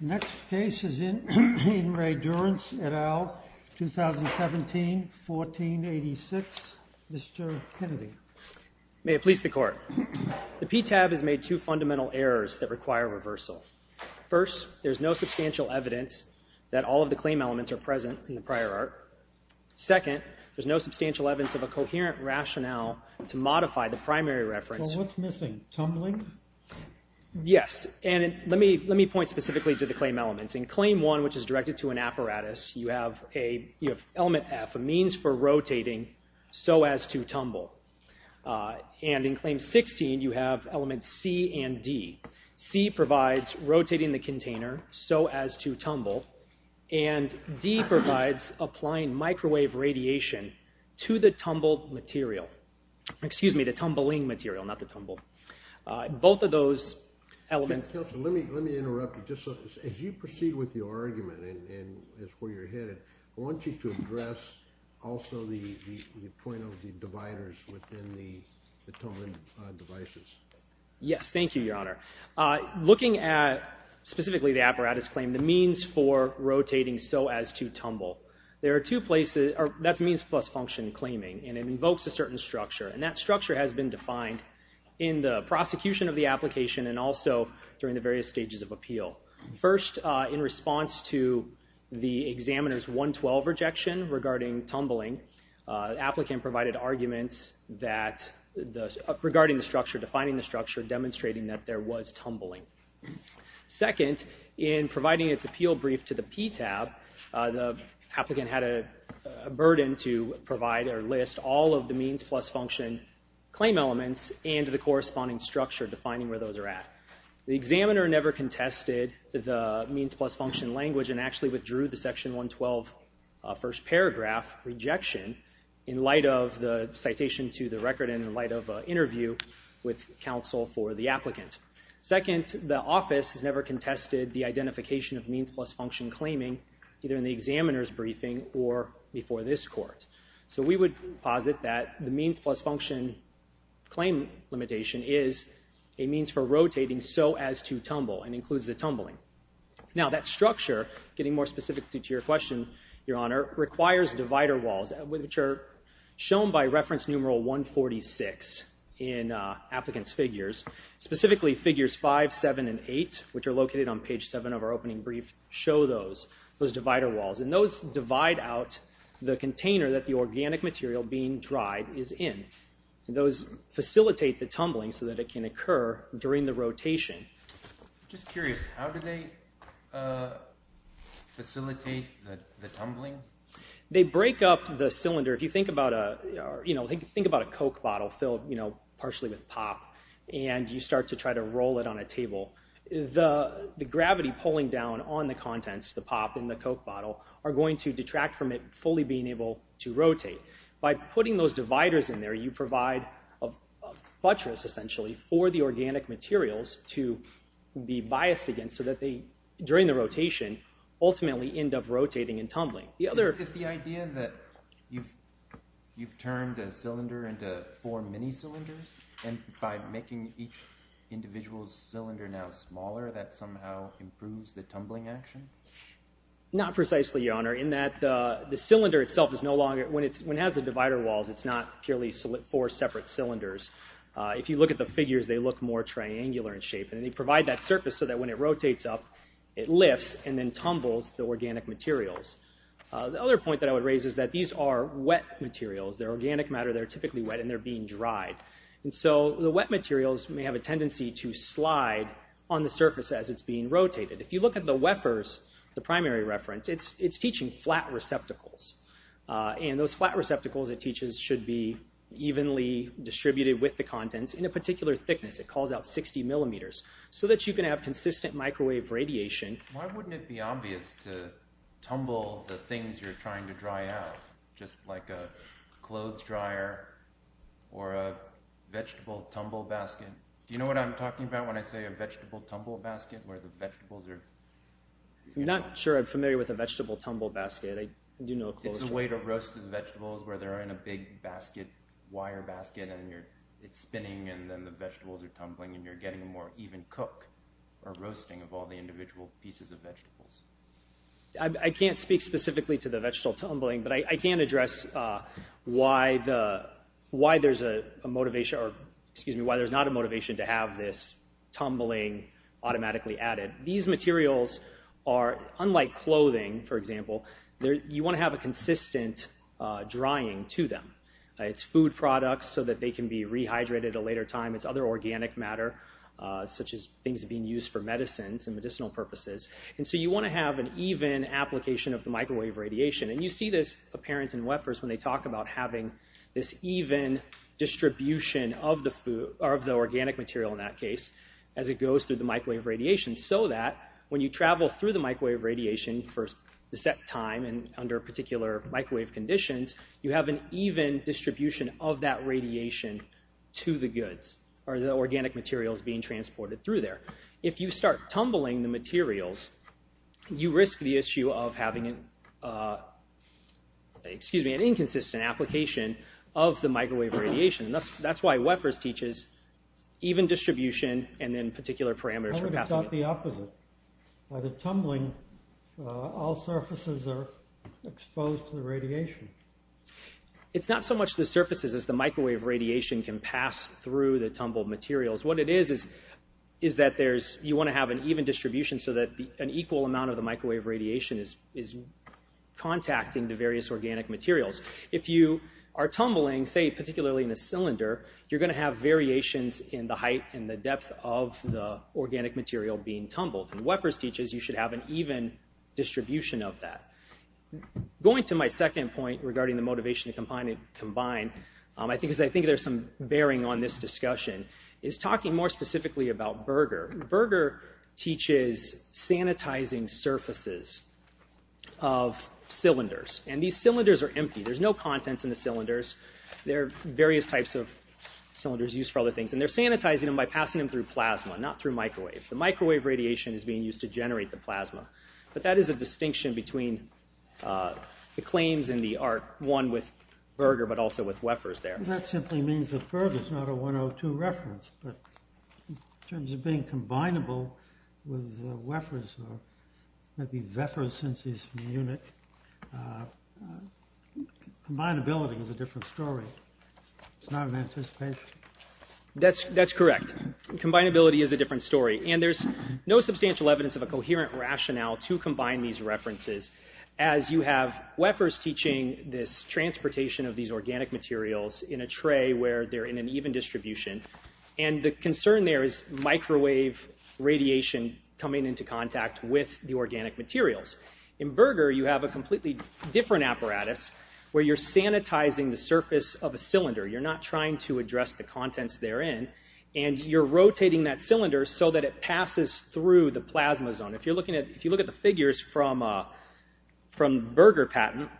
The next case is in Re Durance, et al., 2017, 1486. Mr. Kennedy. May it please the Court. The PTAB has made two fundamental errors that require reversal. First, there is no substantial evidence that all of the claim elements are present in the prior art. Second, there is no substantial evidence of a coherent rationale to modify the primary reference. Well, what's missing? Tumbling? Yes, and let me point specifically to the claim elements. In Claim 1, which is directed to an apparatus, you have Element F, a means for rotating, so as to tumble. And in Claim 16, you have Elements C and D. C provides rotating the container, so as to tumble. And D provides applying microwave radiation to the tumbled material. Excuse me, the tumbling material, not the tumble. Both of those elements... Counselor, let me interrupt you. As you proceed with your argument, and as to where you're headed, I want you to address also the point of the dividers within the tumbling devices. Yes, thank you, Your Honor. Looking at specifically the apparatus claim, the means for rotating, so as to tumble, that's means plus function claiming, and it invokes a certain structure. And that structure has been defined in the prosecution of the application and also during the various stages of appeal. First, in response to the examiner's 112 rejection regarding tumbling, the applicant provided arguments regarding the structure, defining the structure, demonstrating that there was tumbling. Second, in providing its appeal brief to the PTAB, the applicant had a burden to provide or list all of the means plus function claim elements and the corresponding structure, defining where those are at. The examiner never contested the means plus function language and actually withdrew the Section 112 first paragraph rejection in light of the citation to the record and in light of an interview with counsel for the applicant. Second, the office has never contested the identification of means plus function claiming, either in the examiner's briefing or before this Court. So we would posit that the means plus function claim limitation is a means for rotating, so as to tumble, and includes the tumbling. Now, that structure, getting more specific to your question, Your Honor, requires divider walls, which are shown by reference numeral 146 in applicant's figures. Specifically, figures 5, 7, and 8, which are located on page 7 of our opening brief, show those divider walls. And those divide out the container that the organic material being dried is in. And those facilitate the tumbling so that it can occur during the rotation. I'm just curious, how do they facilitate the tumbling? They break up the cylinder. If you think about a Coke bottle filled partially with pop, and you start to try to roll it on a table, the gravity pulling down on the contents, the pop and the Coke bottle, are going to detract from it fully being able to rotate. By putting those dividers in there, you provide a buttress, essentially, for the organic materials to be biased against, so that they, during the rotation, ultimately end up rotating and tumbling. Is the idea that you've turned a cylinder into four mini-cylinders? And by making each individual cylinder now smaller, that somehow improves the tumbling action? Not precisely, Your Honor, in that the cylinder itself is no longer, when it has the divider walls, it's not purely four separate cylinders. If you look at the figures, they look more triangular in shape. And they provide that surface so that when it rotates up, it lifts and then tumbles the organic materials. The other point that I would raise is that these are wet materials. They're organic matter, they're typically wet, and they're being dried. And so the wet materials may have a tendency to slide on the surface as it's being rotated. If you look at the wefers, the primary reference, it's teaching flat receptacles. And those flat receptacles, it teaches, should be evenly distributed with the contents. In a particular thickness, it calls out 60 millimeters, so that you can have consistent microwave radiation. Why wouldn't it be obvious to tumble the things you're trying to dry out, just like a clothes dryer or a vegetable tumble basket? Do you know what I'm talking about when I say a vegetable tumble basket, where the vegetables are... I'm not sure I'm familiar with a vegetable tumble basket. It's a way to roast the vegetables where they're in a big wire basket, and it's spinning, and then the vegetables are tumbling, and you're getting a more even cook or roasting of all the individual pieces of vegetables. I can't speak specifically to the vegetable tumbling, but I can address why there's not a motivation to have this tumbling automatically added. These materials are, unlike clothing, for example, you want to have a consistent drying to them. It's food products so that they can be rehydrated at a later time. It's other organic matter, such as things being used for medicines and medicinal purposes. And so you want to have an even application of the microwave radiation. And you see this apparent in wefers when they talk about having this even distribution of the food, or of the organic material in that case, as it goes through the microwave radiation. So that when you travel through the microwave radiation for a set time, and under particular microwave conditions, you have an even distribution of that radiation to the goods, or the organic materials being transported through there. If you start tumbling the materials, you risk the issue of having an inconsistent application of the microwave radiation. That's why wefers teaches even distribution and then particular parameters for passing it. How about the opposite? By the tumbling, all surfaces are exposed to the radiation. It's not so much the surfaces as the microwave radiation can pass through the tumbled materials. What it is, is that you want to have an even distribution so that an equal amount of the microwave radiation is contacting the various organic materials. If you are tumbling, say particularly in a cylinder, you're going to have variations in the height and the depth of the organic material being tumbled. And wefers teaches you should have an even distribution of that. Going to my second point regarding the motivation to combine, I think there's some bearing on this discussion, is talking more specifically about Berger. Berger teaches sanitizing surfaces of cylinders. And these cylinders are empty. There's no contents in the cylinders. There are various types of cylinders used for other things. And they're sanitizing them by passing them through plasma, not through microwave. The microwave radiation is being used to generate the plasma. But that is a distinction between the claims in the art, one with Berger, but also with wefers there. That simply means that Berger is not a 102 reference. But in terms of being combinable with wefers or maybe wefers since he's from the unit, combinability is a different story. It's not an anticipation. That's correct. Combinability is a different story. And there's no substantial evidence of a coherent rationale to combine these references. As you have wefers teaching this transportation of these organic materials in a tray where they're in an even distribution. And the concern there is microwave radiation coming into contact with the organic materials. In Berger, you have a completely different apparatus where you're sanitizing the surface of a cylinder. You're not trying to address the contents therein. And you're rotating that cylinder so that it passes through the plasma zone. If you look at the figures from Berger patent,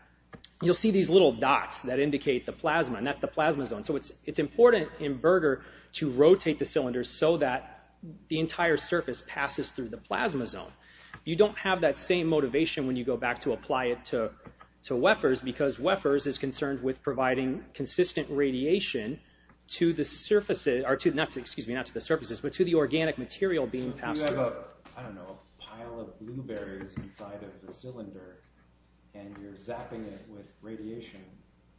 you'll see these little dots that indicate the plasma. And that's the plasma zone. So it's important in Berger to rotate the cylinder so that the entire surface passes through the plasma zone. You don't have that same motivation when you go back to apply it to wefers because wefers is concerned with providing consistent radiation to the surfaces, not to the surfaces, but to the organic material being passed through. So if you have, I don't know, a pile of blueberries inside of the cylinder and you're zapping it with radiation,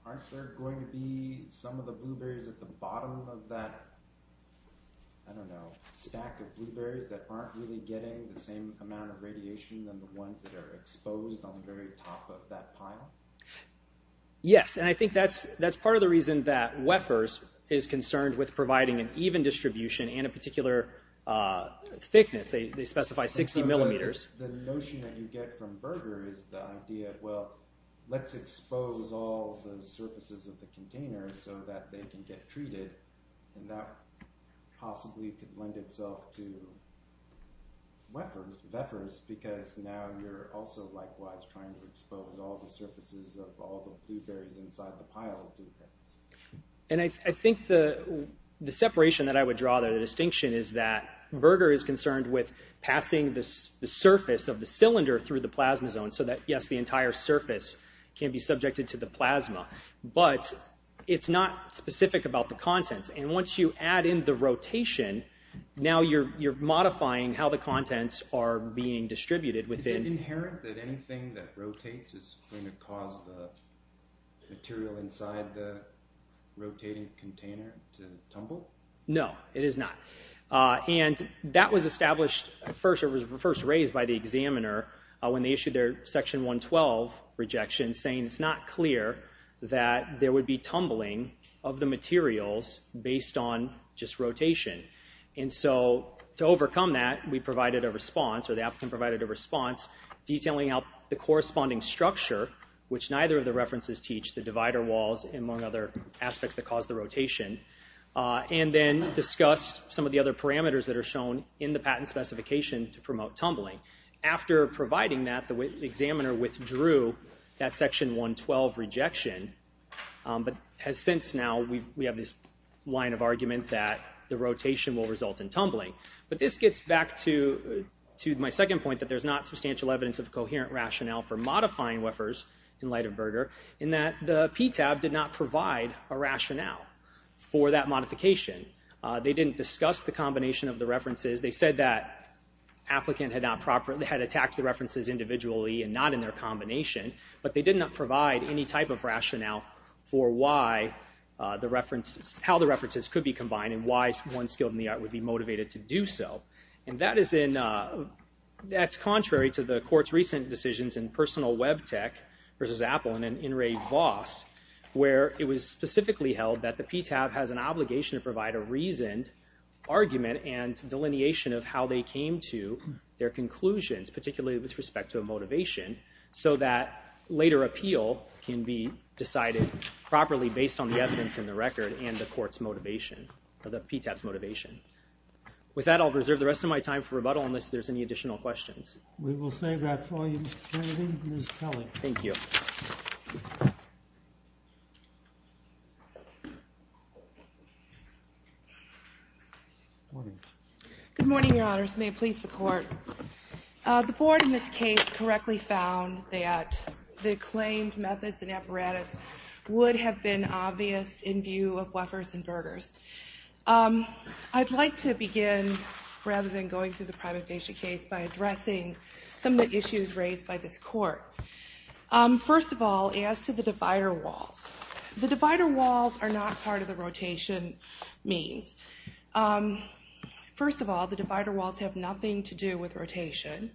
aren't there going to be some of the blueberries at the bottom of that, I don't know, stack of blueberries that aren't really getting the same amount of radiation than the ones that are exposed on the very top of that pile? Yes, and I think that's part of the reason that wefers is concerned with providing an even distribution and a particular thickness. They specify 60 millimeters. The notion that you get from Berger is the idea, well, let's expose all the surfaces of the container so that they can get treated. And that possibly could lend itself to wefers because now you're also likewise trying to expose all the surfaces of all the blueberries inside the pile of blueberries. And I think the separation that I would draw, the distinction, is that Berger is concerned with passing the surface of the cylinder through the plasma zone so that, yes, the entire surface can be subjected to the plasma, but it's not specific about the contents. And once you add in the rotation, now you're modifying how the contents are being distributed. Is it inherent that anything that rotates is going to cause the material inside the rotating container to tumble? No, it is not. And that was established first. It was first raised by the examiner when they issued their Section 112 rejection, saying it's not clear that there would be tumbling of the materials based on just rotation. And so to overcome that, we provided a response, or the applicant provided a response, detailing out the corresponding structure, which neither of the references teach, the divider walls, among other aspects that cause the rotation. And then discussed some of the other parameters that are shown in the patent specification to promote tumbling. After providing that, the examiner withdrew that Section 112 rejection, but has since now, we have this line of argument that the rotation will result in tumbling. But this gets back to my second point, that there's not substantial evidence of coherent rationale for modifying whiffers in light of Berger, in that the PTAB did not provide a rationale for that modification. They didn't discuss the combination of the references. They said that applicant had attacked the references individually and not in their combination, but they did not provide any type of rationale for how the references could be combined and why one skilled in the art would be motivated to do so. And that is in, that's contrary to the court's recent decisions in personal web tech versus Apple and in Ray Voss, where it was specifically held that the PTAB has an obligation to provide a reasoned argument and delineation of how they came to their conclusions, particularly with respect to a motivation, so that later appeal can be decided properly based on the evidence in the record and the court's motivation, or the PTAB's motivation. With that, I'll reserve the rest of my time for rebuttal unless there's any additional questions. We will save that for you, Mr. Kennedy. Ms. Kelly. Thank you. Good morning, your honors. May it please the court. The board in this case correctly found that the claimed methods and apparatus would have been obvious in view of whiffers and Bergers. I'd like to begin, rather than going through the private patient case, by addressing some of the issues raised by this court. First of all, as to the divider walls. The divider walls are not part of the rotation means. First of all, the divider walls have nothing to do with rotation.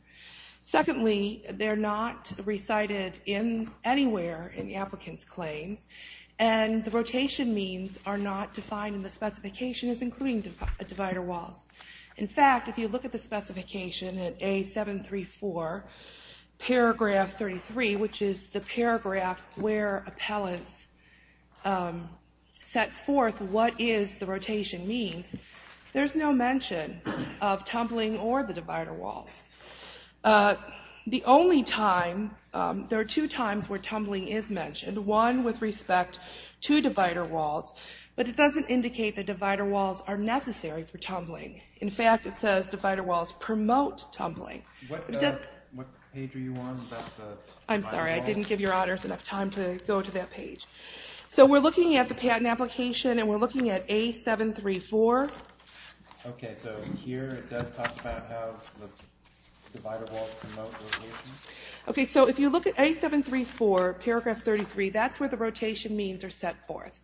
Secondly, they're not recited anywhere in the applicant's claims, and the rotation means are not defined in the specification as including divider walls. In fact, if you look at the specification at A734, paragraph 33, which is the paragraph where appellants set forth what is the rotation means, there's no mention of tumbling or the divider walls. The only time, there are two times where tumbling is mentioned. One with respect to divider walls, but it doesn't indicate that divider walls are necessary for tumbling. In fact, it says divider walls promote tumbling. What page are you on about the divider walls? I'm sorry, I didn't give your honors enough time to go to that page. So we're looking at the patent application, and we're looking at A734. Okay, so here it does talk about how the divider walls promote rotation. Okay, so if you look at A734, paragraph 33, that's where the rotation means are set forth.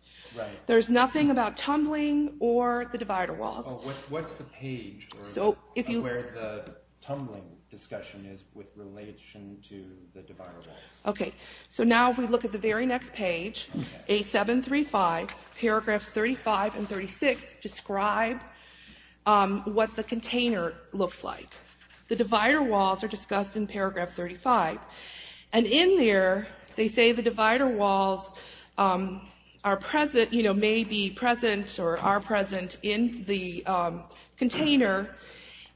There's nothing about tumbling or the divider walls. What's the page where the tumbling discussion is with relation to the divider walls? Okay, so now if we look at the very next page, A735, paragraphs 35 and 36, describe what the container looks like. The divider walls are discussed in paragraph 35. And in there, they say the divider walls are present, you know, may be present or are present in the container,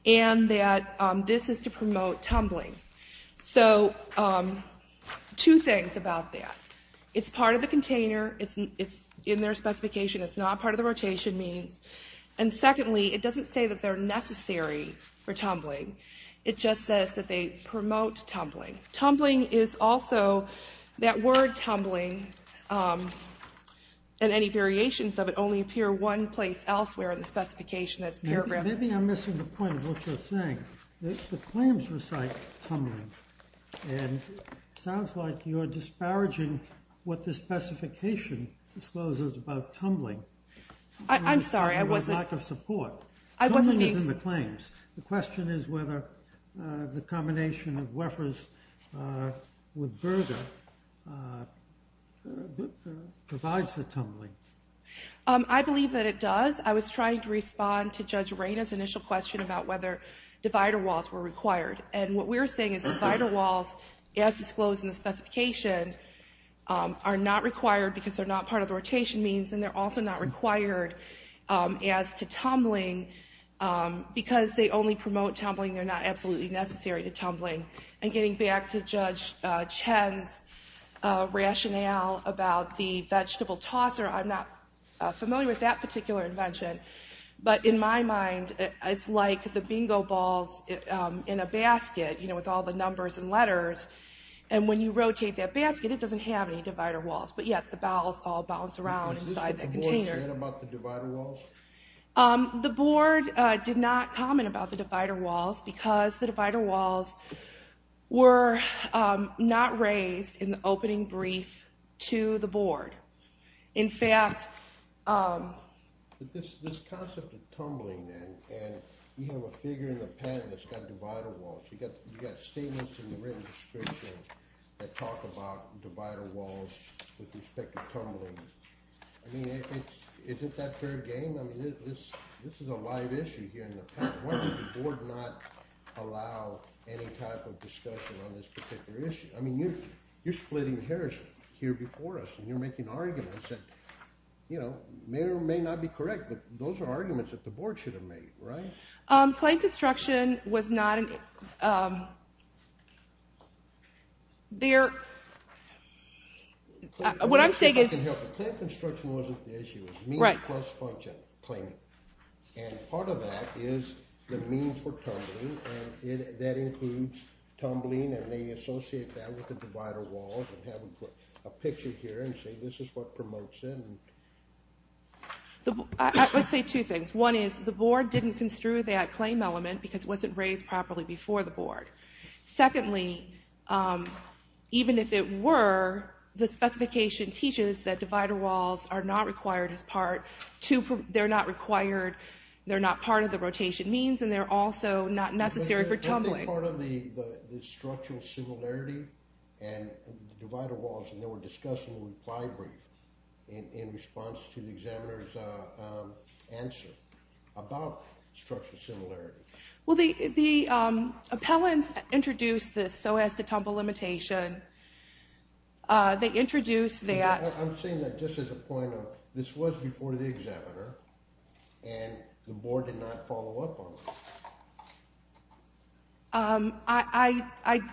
and that this is to promote tumbling. So two things about that. It's part of the container. It's in their specification. It's not part of the rotation means. And secondly, it doesn't say that they're necessary for tumbling. It just says that they promote tumbling. Tumbling is also, that word tumbling and any variations of it only appear one place elsewhere in the specification that's paragraphed. Maybe I'm missing the point of what you're saying. The claims recite tumbling, and it sounds like you're disparaging what the specification discloses about tumbling. I'm sorry. There was lack of support. Tumbling is in the claims. The question is whether the combination of Wefers with Berger provides the tumbling. I believe that it does. I was trying to respond to Judge Reyna's initial question about whether divider walls were required. And what we're saying is divider walls, as disclosed in the specification, are not required because they're not part of the rotation means, and they're also not required as to tumbling because they only promote tumbling. They're not absolutely necessary to tumbling. And getting back to Judge Chen's rationale about the vegetable tosser, I'm not familiar with that particular invention. But in my mind, it's like the bingo balls in a basket with all the numbers and letters. And when you rotate that basket, it doesn't have any divider walls. But yet the balls all bounce around inside that container. Is this what the board said about the divider walls? The board did not comment about the divider walls because the divider walls were not raised in the opening brief to the board. In fact... This concept of tumbling, then, and you have a figure in the pen that's got divider walls. You've got statements in the written description that talk about divider walls with respect to tumbling. I mean, isn't that fair game? I mean, this is a live issue here in the pen. Why did the board not allow any type of discussion on this particular issue? I mean, you're splitting hairs here before us, and you're making arguments that may or may not be correct. But those are arguments that the board should have made, right? Claim construction was not an... There... What I'm saying is... Claim construction wasn't the issue. It was means plus function, claiming. And part of that is the means for tumbling, and that includes tumbling, and they associate that with the divider walls, and have them put a picture here and say this is what promotes it. Let's say two things. One is the board didn't construe that claim element because it wasn't raised properly before the board. Secondly, even if it were, the specification teaches that divider walls are not required as part to... They're not required... They're not part of the rotation means, and they're also not necessary for tumbling. I think part of the structural similarity and divider walls, and they were discussed in the reply brief in response to the examiner's answer about structural similarity. Well, the appellants introduced this, so as to tumble limitation. They introduced that... I'm saying that just as a point of... This was before the examiner, and the board did not follow up on this.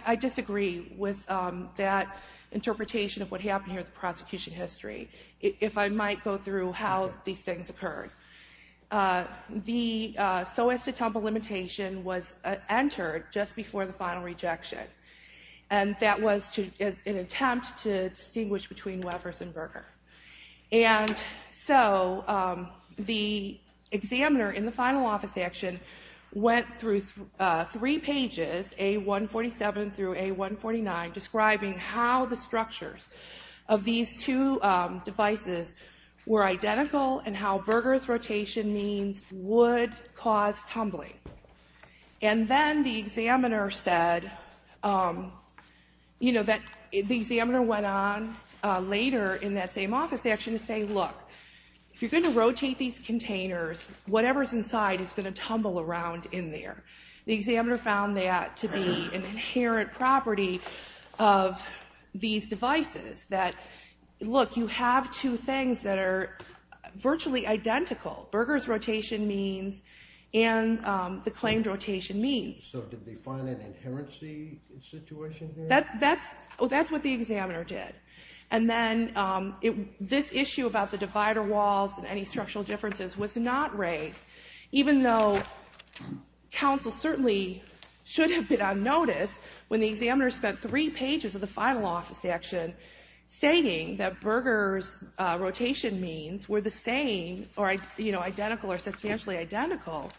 I disagree with that interpretation of what happened here at the prosecution history. If I might go through how these things occurred. The so as to tumble limitation was entered just before the final rejection, and that was an attempt to distinguish between Wevers and Berger. And so the examiner in the final office action went through three pages, A147 through A149, describing how the structures of these two devices were identical and how Berger's rotation means would cause tumbling. And then the examiner said... The examiner went on later in that same office action to say, look, if you're going to rotate these containers, whatever's inside is going to tumble around in there. The examiner found that to be an inherent property of these devices that, look, you have two things that are virtually identical, Berger's rotation means and the claimed rotation means. So did they find an inherency situation here? That's what the examiner did. And then this issue about the divider walls and any structural differences was not raised, even though counsel certainly should have been on notice when the examiner spent three pages of the final office action stating that Berger's rotation means were the same or identical or substantially identical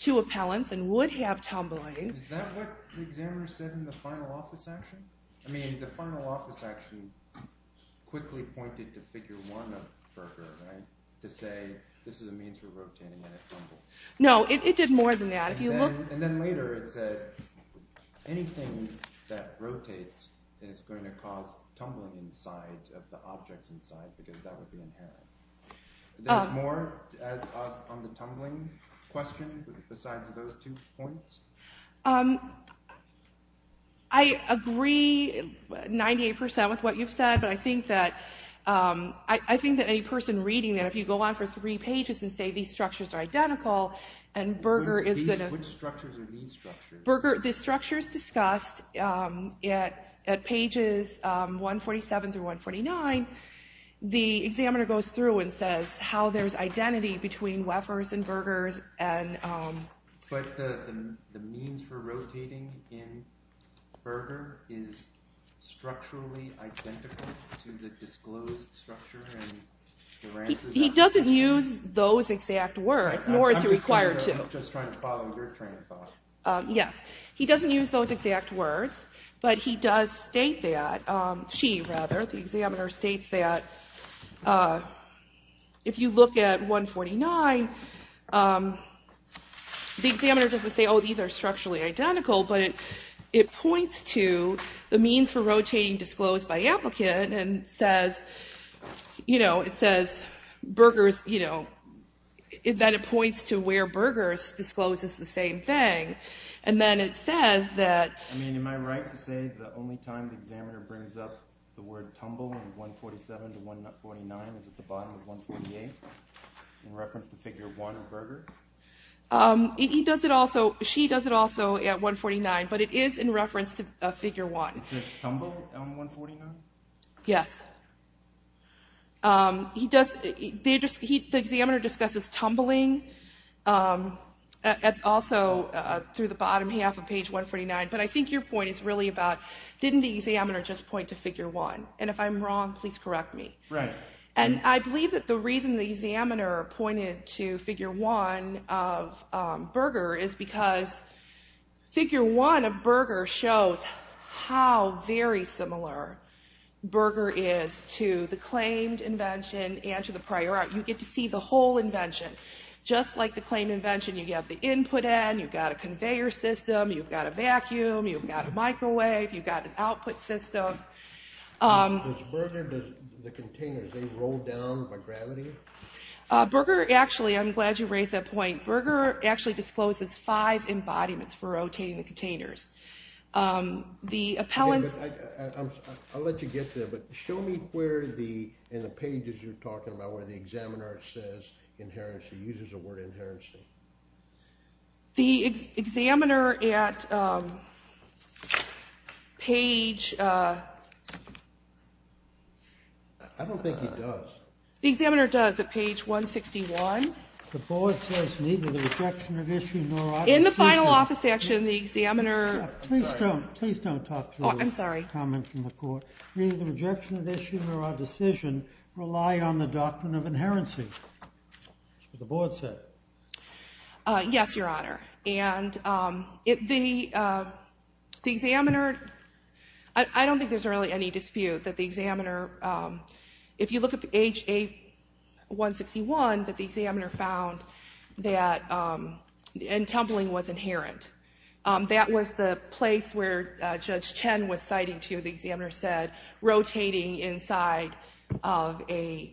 to appellant's and would have tumbling. Is that what the examiner said in the final office action? I mean, the final office action quickly pointed to figure one of Berger, right, to say this is a means for rotating and it tumbled. No, it did more than that. And then later it said anything that rotates is going to cause tumbling inside of the objects inside because that would be inherent. There's more on the tumbling question besides those two points? I agree 98% with what you've said, but I think that any person reading that, if you go on for three pages and say these structures are identical and Berger is going to... Which structures are these structures? Berger, this structure is discussed at pages 147 through 149. The examiner goes through and says how there's identity between Weffer's and Berger's and... But the means for rotating in Berger is structurally identical to the disclosed structure? He doesn't use those exact words, nor is he required to. I'm just trying to follow your train of thought. Yes, he doesn't use those exact words, but he does state that, she rather, the examiner states that if you look at 149, the examiner doesn't say, oh, these are structurally identical, but it points to the means for rotating disclosed by applicant and it says that it points to where Berger's discloses the same thing. And then it says that... I mean, am I right to say the only time the examiner brings up the word tumble in 147 to 149 is at the bottom of 148 in reference to figure 1 of Berger? He does it also, she does it also at 149, but it is in reference to figure 1. It says tumble on 149? Yes. He does, the examiner discusses tumbling also through the bottom half of page 149, but I think your point is really about didn't the examiner just point to figure 1? And if I'm wrong, please correct me. Right. And I believe that the reason the examiner pointed to figure 1 of Berger is because figure 1 of Berger shows how very similar Berger is to the claimed invention and to the prior art. You get to see the whole invention. Just like the claimed invention, you have the input end, you've got a conveyor system, you've got a vacuum, you've got a microwave, you've got an output system. Does Berger, the containers, they roll down by gravity? Berger actually, I'm glad you raised that point, Berger actually discloses five embodiments for rotating the containers. Okay, I'll let you get there, but show me where in the pages you're talking about where the examiner says inherency, uses the word inherency. The examiner at page... I don't think he does. The examiner does at page 161. The board says neither the rejection of issue nor our decision... In the final office section, the examiner... Please don't talk through the comment from the court. Neither the rejection of issue nor our decision rely on the doctrine of inherency, the board said. Yes, Your Honor. And the examiner... I don't think there's really any dispute that the examiner... If you look at page 161, that the examiner found that... And tumbling was inherent. That was the place where Judge Chen was citing to, the examiner said, rotating inside of a...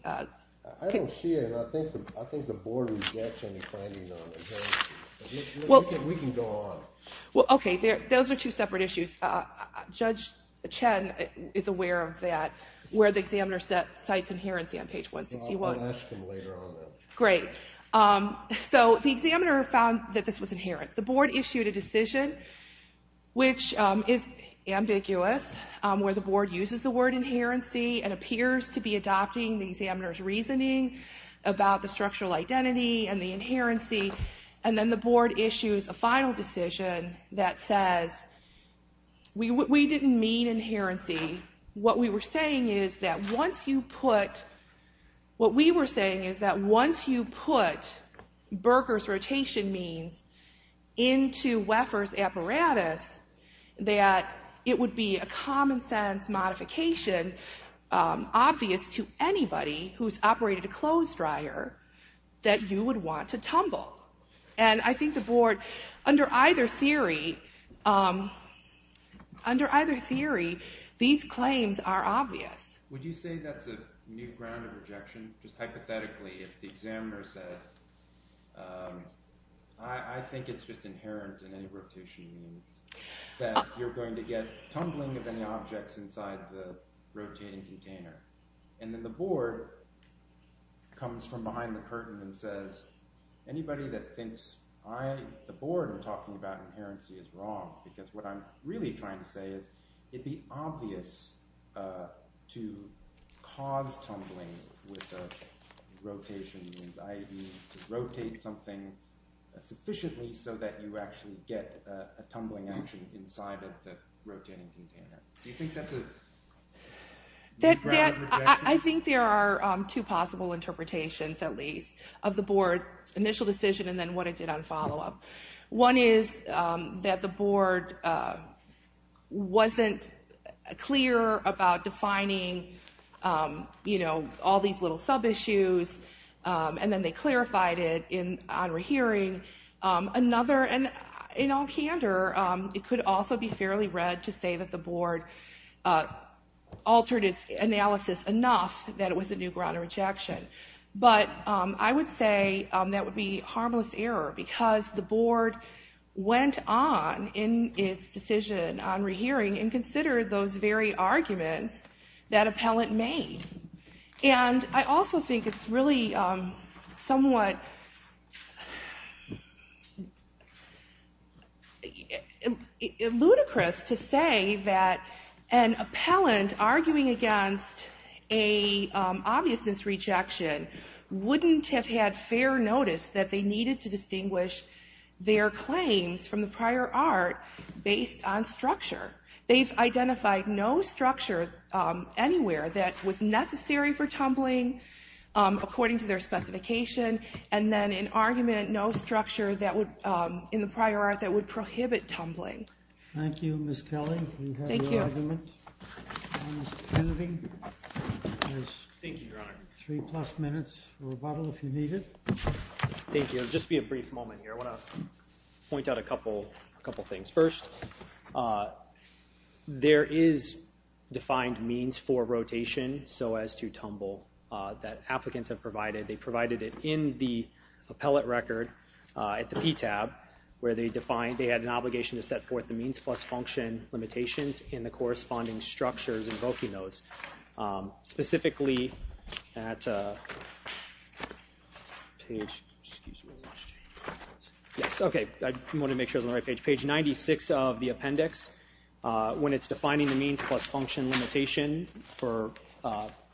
I don't see it, and I think the board rejects any finding on inherency. We can go on. Okay, those are two separate issues. Judge Chen is aware of that, where the examiner cites inherency on page 161. I'll ask him later on that. Great. So the examiner found that this was inherent. The board issued a decision, which is ambiguous, where the board uses the word inherency and appears to be adopting the examiner's reasoning about the structural identity and the inherency, and then the board issues a final decision that says, we didn't mean inherency. What we were saying is that once you put... What we were saying is that once you put Berger's rotation means into Weffer's apparatus, that it would be a common-sense modification obvious to anybody who's operated a clothes dryer that you would want to tumble. And I think the board, under either theory, these claims are obvious. Would you say that's a new ground of rejection? Just hypothetically, if the examiner said, I think it's just inherent in any rotation means, that you're going to get tumbling of any objects inside the rotating container. And then the board comes from behind the curtain and says, anybody that thinks I, the board, are talking about inherency is wrong, because what I'm really trying to say is it'd be obvious to cause tumbling with a rotation means, i.e. to rotate something sufficiently so that you actually get a tumbling action inside of the rotating container. Do you think that's a new ground of rejection? I think there are two possible interpretations, at least, of the board's initial decision and then what it did on follow-up. One is that the board wasn't clear about defining all these little sub-issues, and then they clarified it in honorary hearing. Another, and in all candor, it could also be fairly read to say that the board altered its analysis enough that it was a new ground of rejection. But I would say that would be harmless error, because the board went on in its decision on rehearing and considered those very arguments that appellant made. And I also think it's really somewhat ludicrous to say that an appellant arguing against a obviousness rejection wouldn't have had fair notice that they needed to distinguish their claims from the prior art based on structure. They've identified no structure anywhere that was necessary for tumbling, according to their specification, and then an argument, no structure in the prior art that would prohibit tumbling. Thank you, Ms. Kelly. Thank you. Mr. Kennedy. Thank you, Your Honor. Three-plus minutes for rebuttal, if you need it. Thank you. It'll just be a brief moment here. I want to point out a couple things. First, there is defined means for rotation so as to tumble that applicants have provided. They provided it in the appellate record at the PTAB, where they defined they had an obligation to set forth the means plus function limitations in the corresponding structures invoking those. Specifically at page, excuse me. Yes, OK, I wanted to make sure I was on the right page. Page 96 of the appendix, when it's defining the means plus function limitation for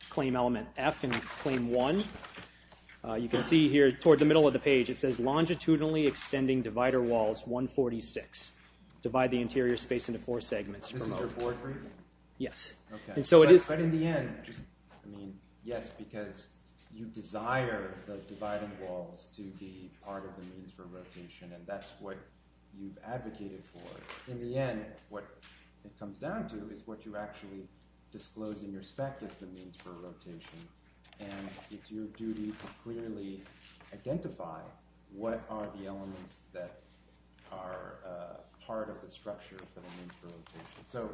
claim element F and claim 1, you can see here toward the middle of the page, it says longitudinally extending divider walls 146. Divide the interior space into four segments. This is your board reading? Yes. But in the end, I mean, yes, because you desire the dividing walls to be part of the means for rotation, and that's what you've advocated for. In the end, what it comes down to is what you actually disclose in your spec as the means for rotation, and it's your duty to clearly identify what are the elements that are part of the structure for the means for rotation. So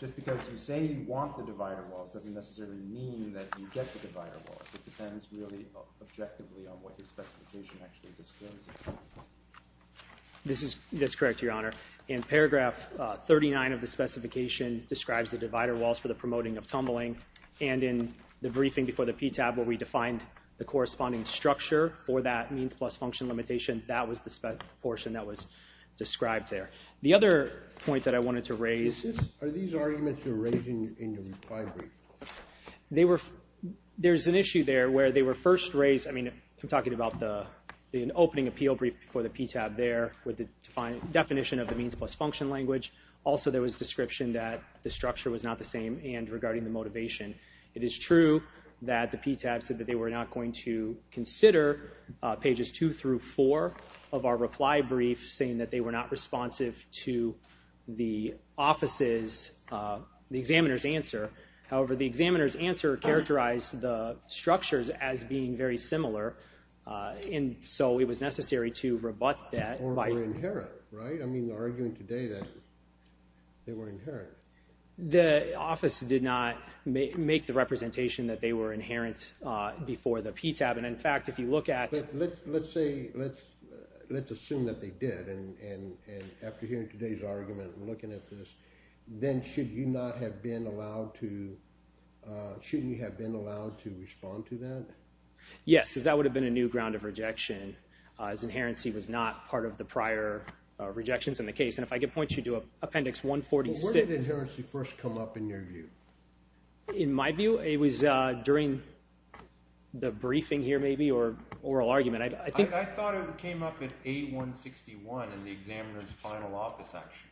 just because you say you want the divider walls doesn't necessarily mean that you get the divider walls. It depends really objectively on what your specification actually discloses. That's correct, Your Honor. In paragraph 39 of the specification describes the divider walls for the promoting of tumbling, and in the briefing before the PTAB where we defined the corresponding structure for that means plus function limitation, that was the portion that was described there. The other point that I wanted to raise... Are these arguments you're raising in your reply brief? There's an issue there where they were first raised... I mean, I'm talking about the opening appeal brief before the PTAB there with the definition of the means plus function language. Also, there was a description that the structure was not the same and regarding the motivation. It is true that the PTAB said that they were not going to consider pages two through four of our reply brief saying that they were not responsive to the examiner's answer. However, the examiner's answer characterized the structures as being very similar, and so it was necessary to rebut that... Or were inherent, right? I mean, arguing today that they were inherent. The office did not make the representation that they were inherent before the PTAB, and in fact, if you look at... Let's assume that they did, and after hearing today's argument and looking at this, then should you not have been allowed to... Yes, because that would have been a new ground of rejection as inherency was not part of the prior rejections in the case, and if I could point you to Appendix 146... Where did inherency first come up in your view? In my view, it was during the briefing here, maybe, or oral argument. I thought it came up at 8-161 in the examiner's final office action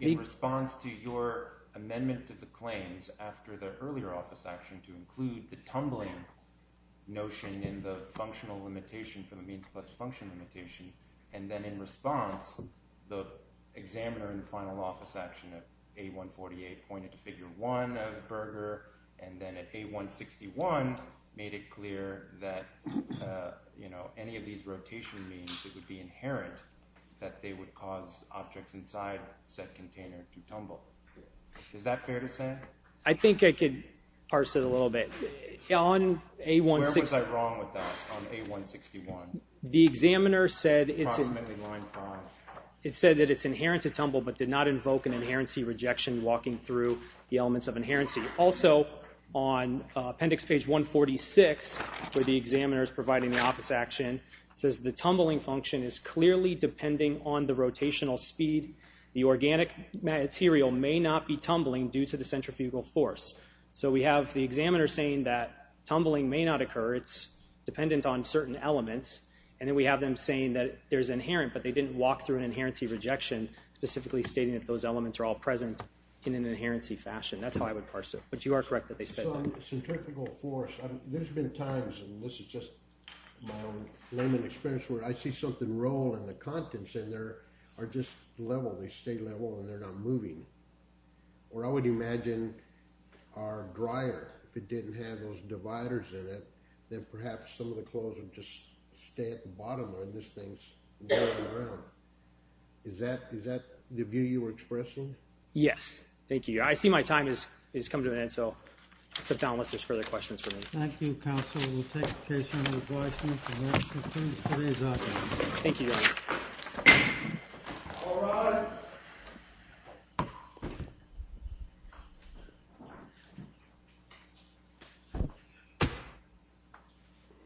in response to your amendment to the claims after the earlier office action to include the tumbling notion in the functional limitation for the means-plus-function limitation, and then in response, the examiner in the final office action at 8-148 pointed to Figure 1 of Berger, and then at 8-161 made it clear that any of these rotation means, it would be inherent that they would cause objects inside said container to tumble. Is that fair to say? I think I could parse it a little bit. On 8-161... Where was I wrong with that on 8-161? The examiner said... Proclaiming Line 5. It said that it's inherent to tumble, but did not invoke an inherency rejection walking through the elements of inherency. Also, on Appendix Page 146, where the examiner is providing the office action, is clearly depending on the rotational speed. The organic material may not be tumbling due to the centrifugal force. So we have the examiner saying that tumbling may not occur, it's dependent on certain elements, and then we have them saying that there's inherent, but they didn't walk through an inherency rejection, specifically stating that those elements are all present in an inherency fashion. That's how I would parse it. But you are correct that they said that. Centrifugal force... There's been times, and this is just my own layman experience, where I see something roll, and the contents in there are just level. They stay level, and they're not moving. Or I would imagine our dryer, if it didn't have those dividers in it, then perhaps some of the clothes would just stay at the bottom, or this thing's rolling around. Is that the view you were expressing? Yes. Thank you. I see my time has come to an end, so I'll sit down unless there's further questions for me. Thank you, Counsel. We'll take a case-in-advice, and if there are any questions, please raise them. Thank you, Your Honor. All rise. Thank you. Thank you.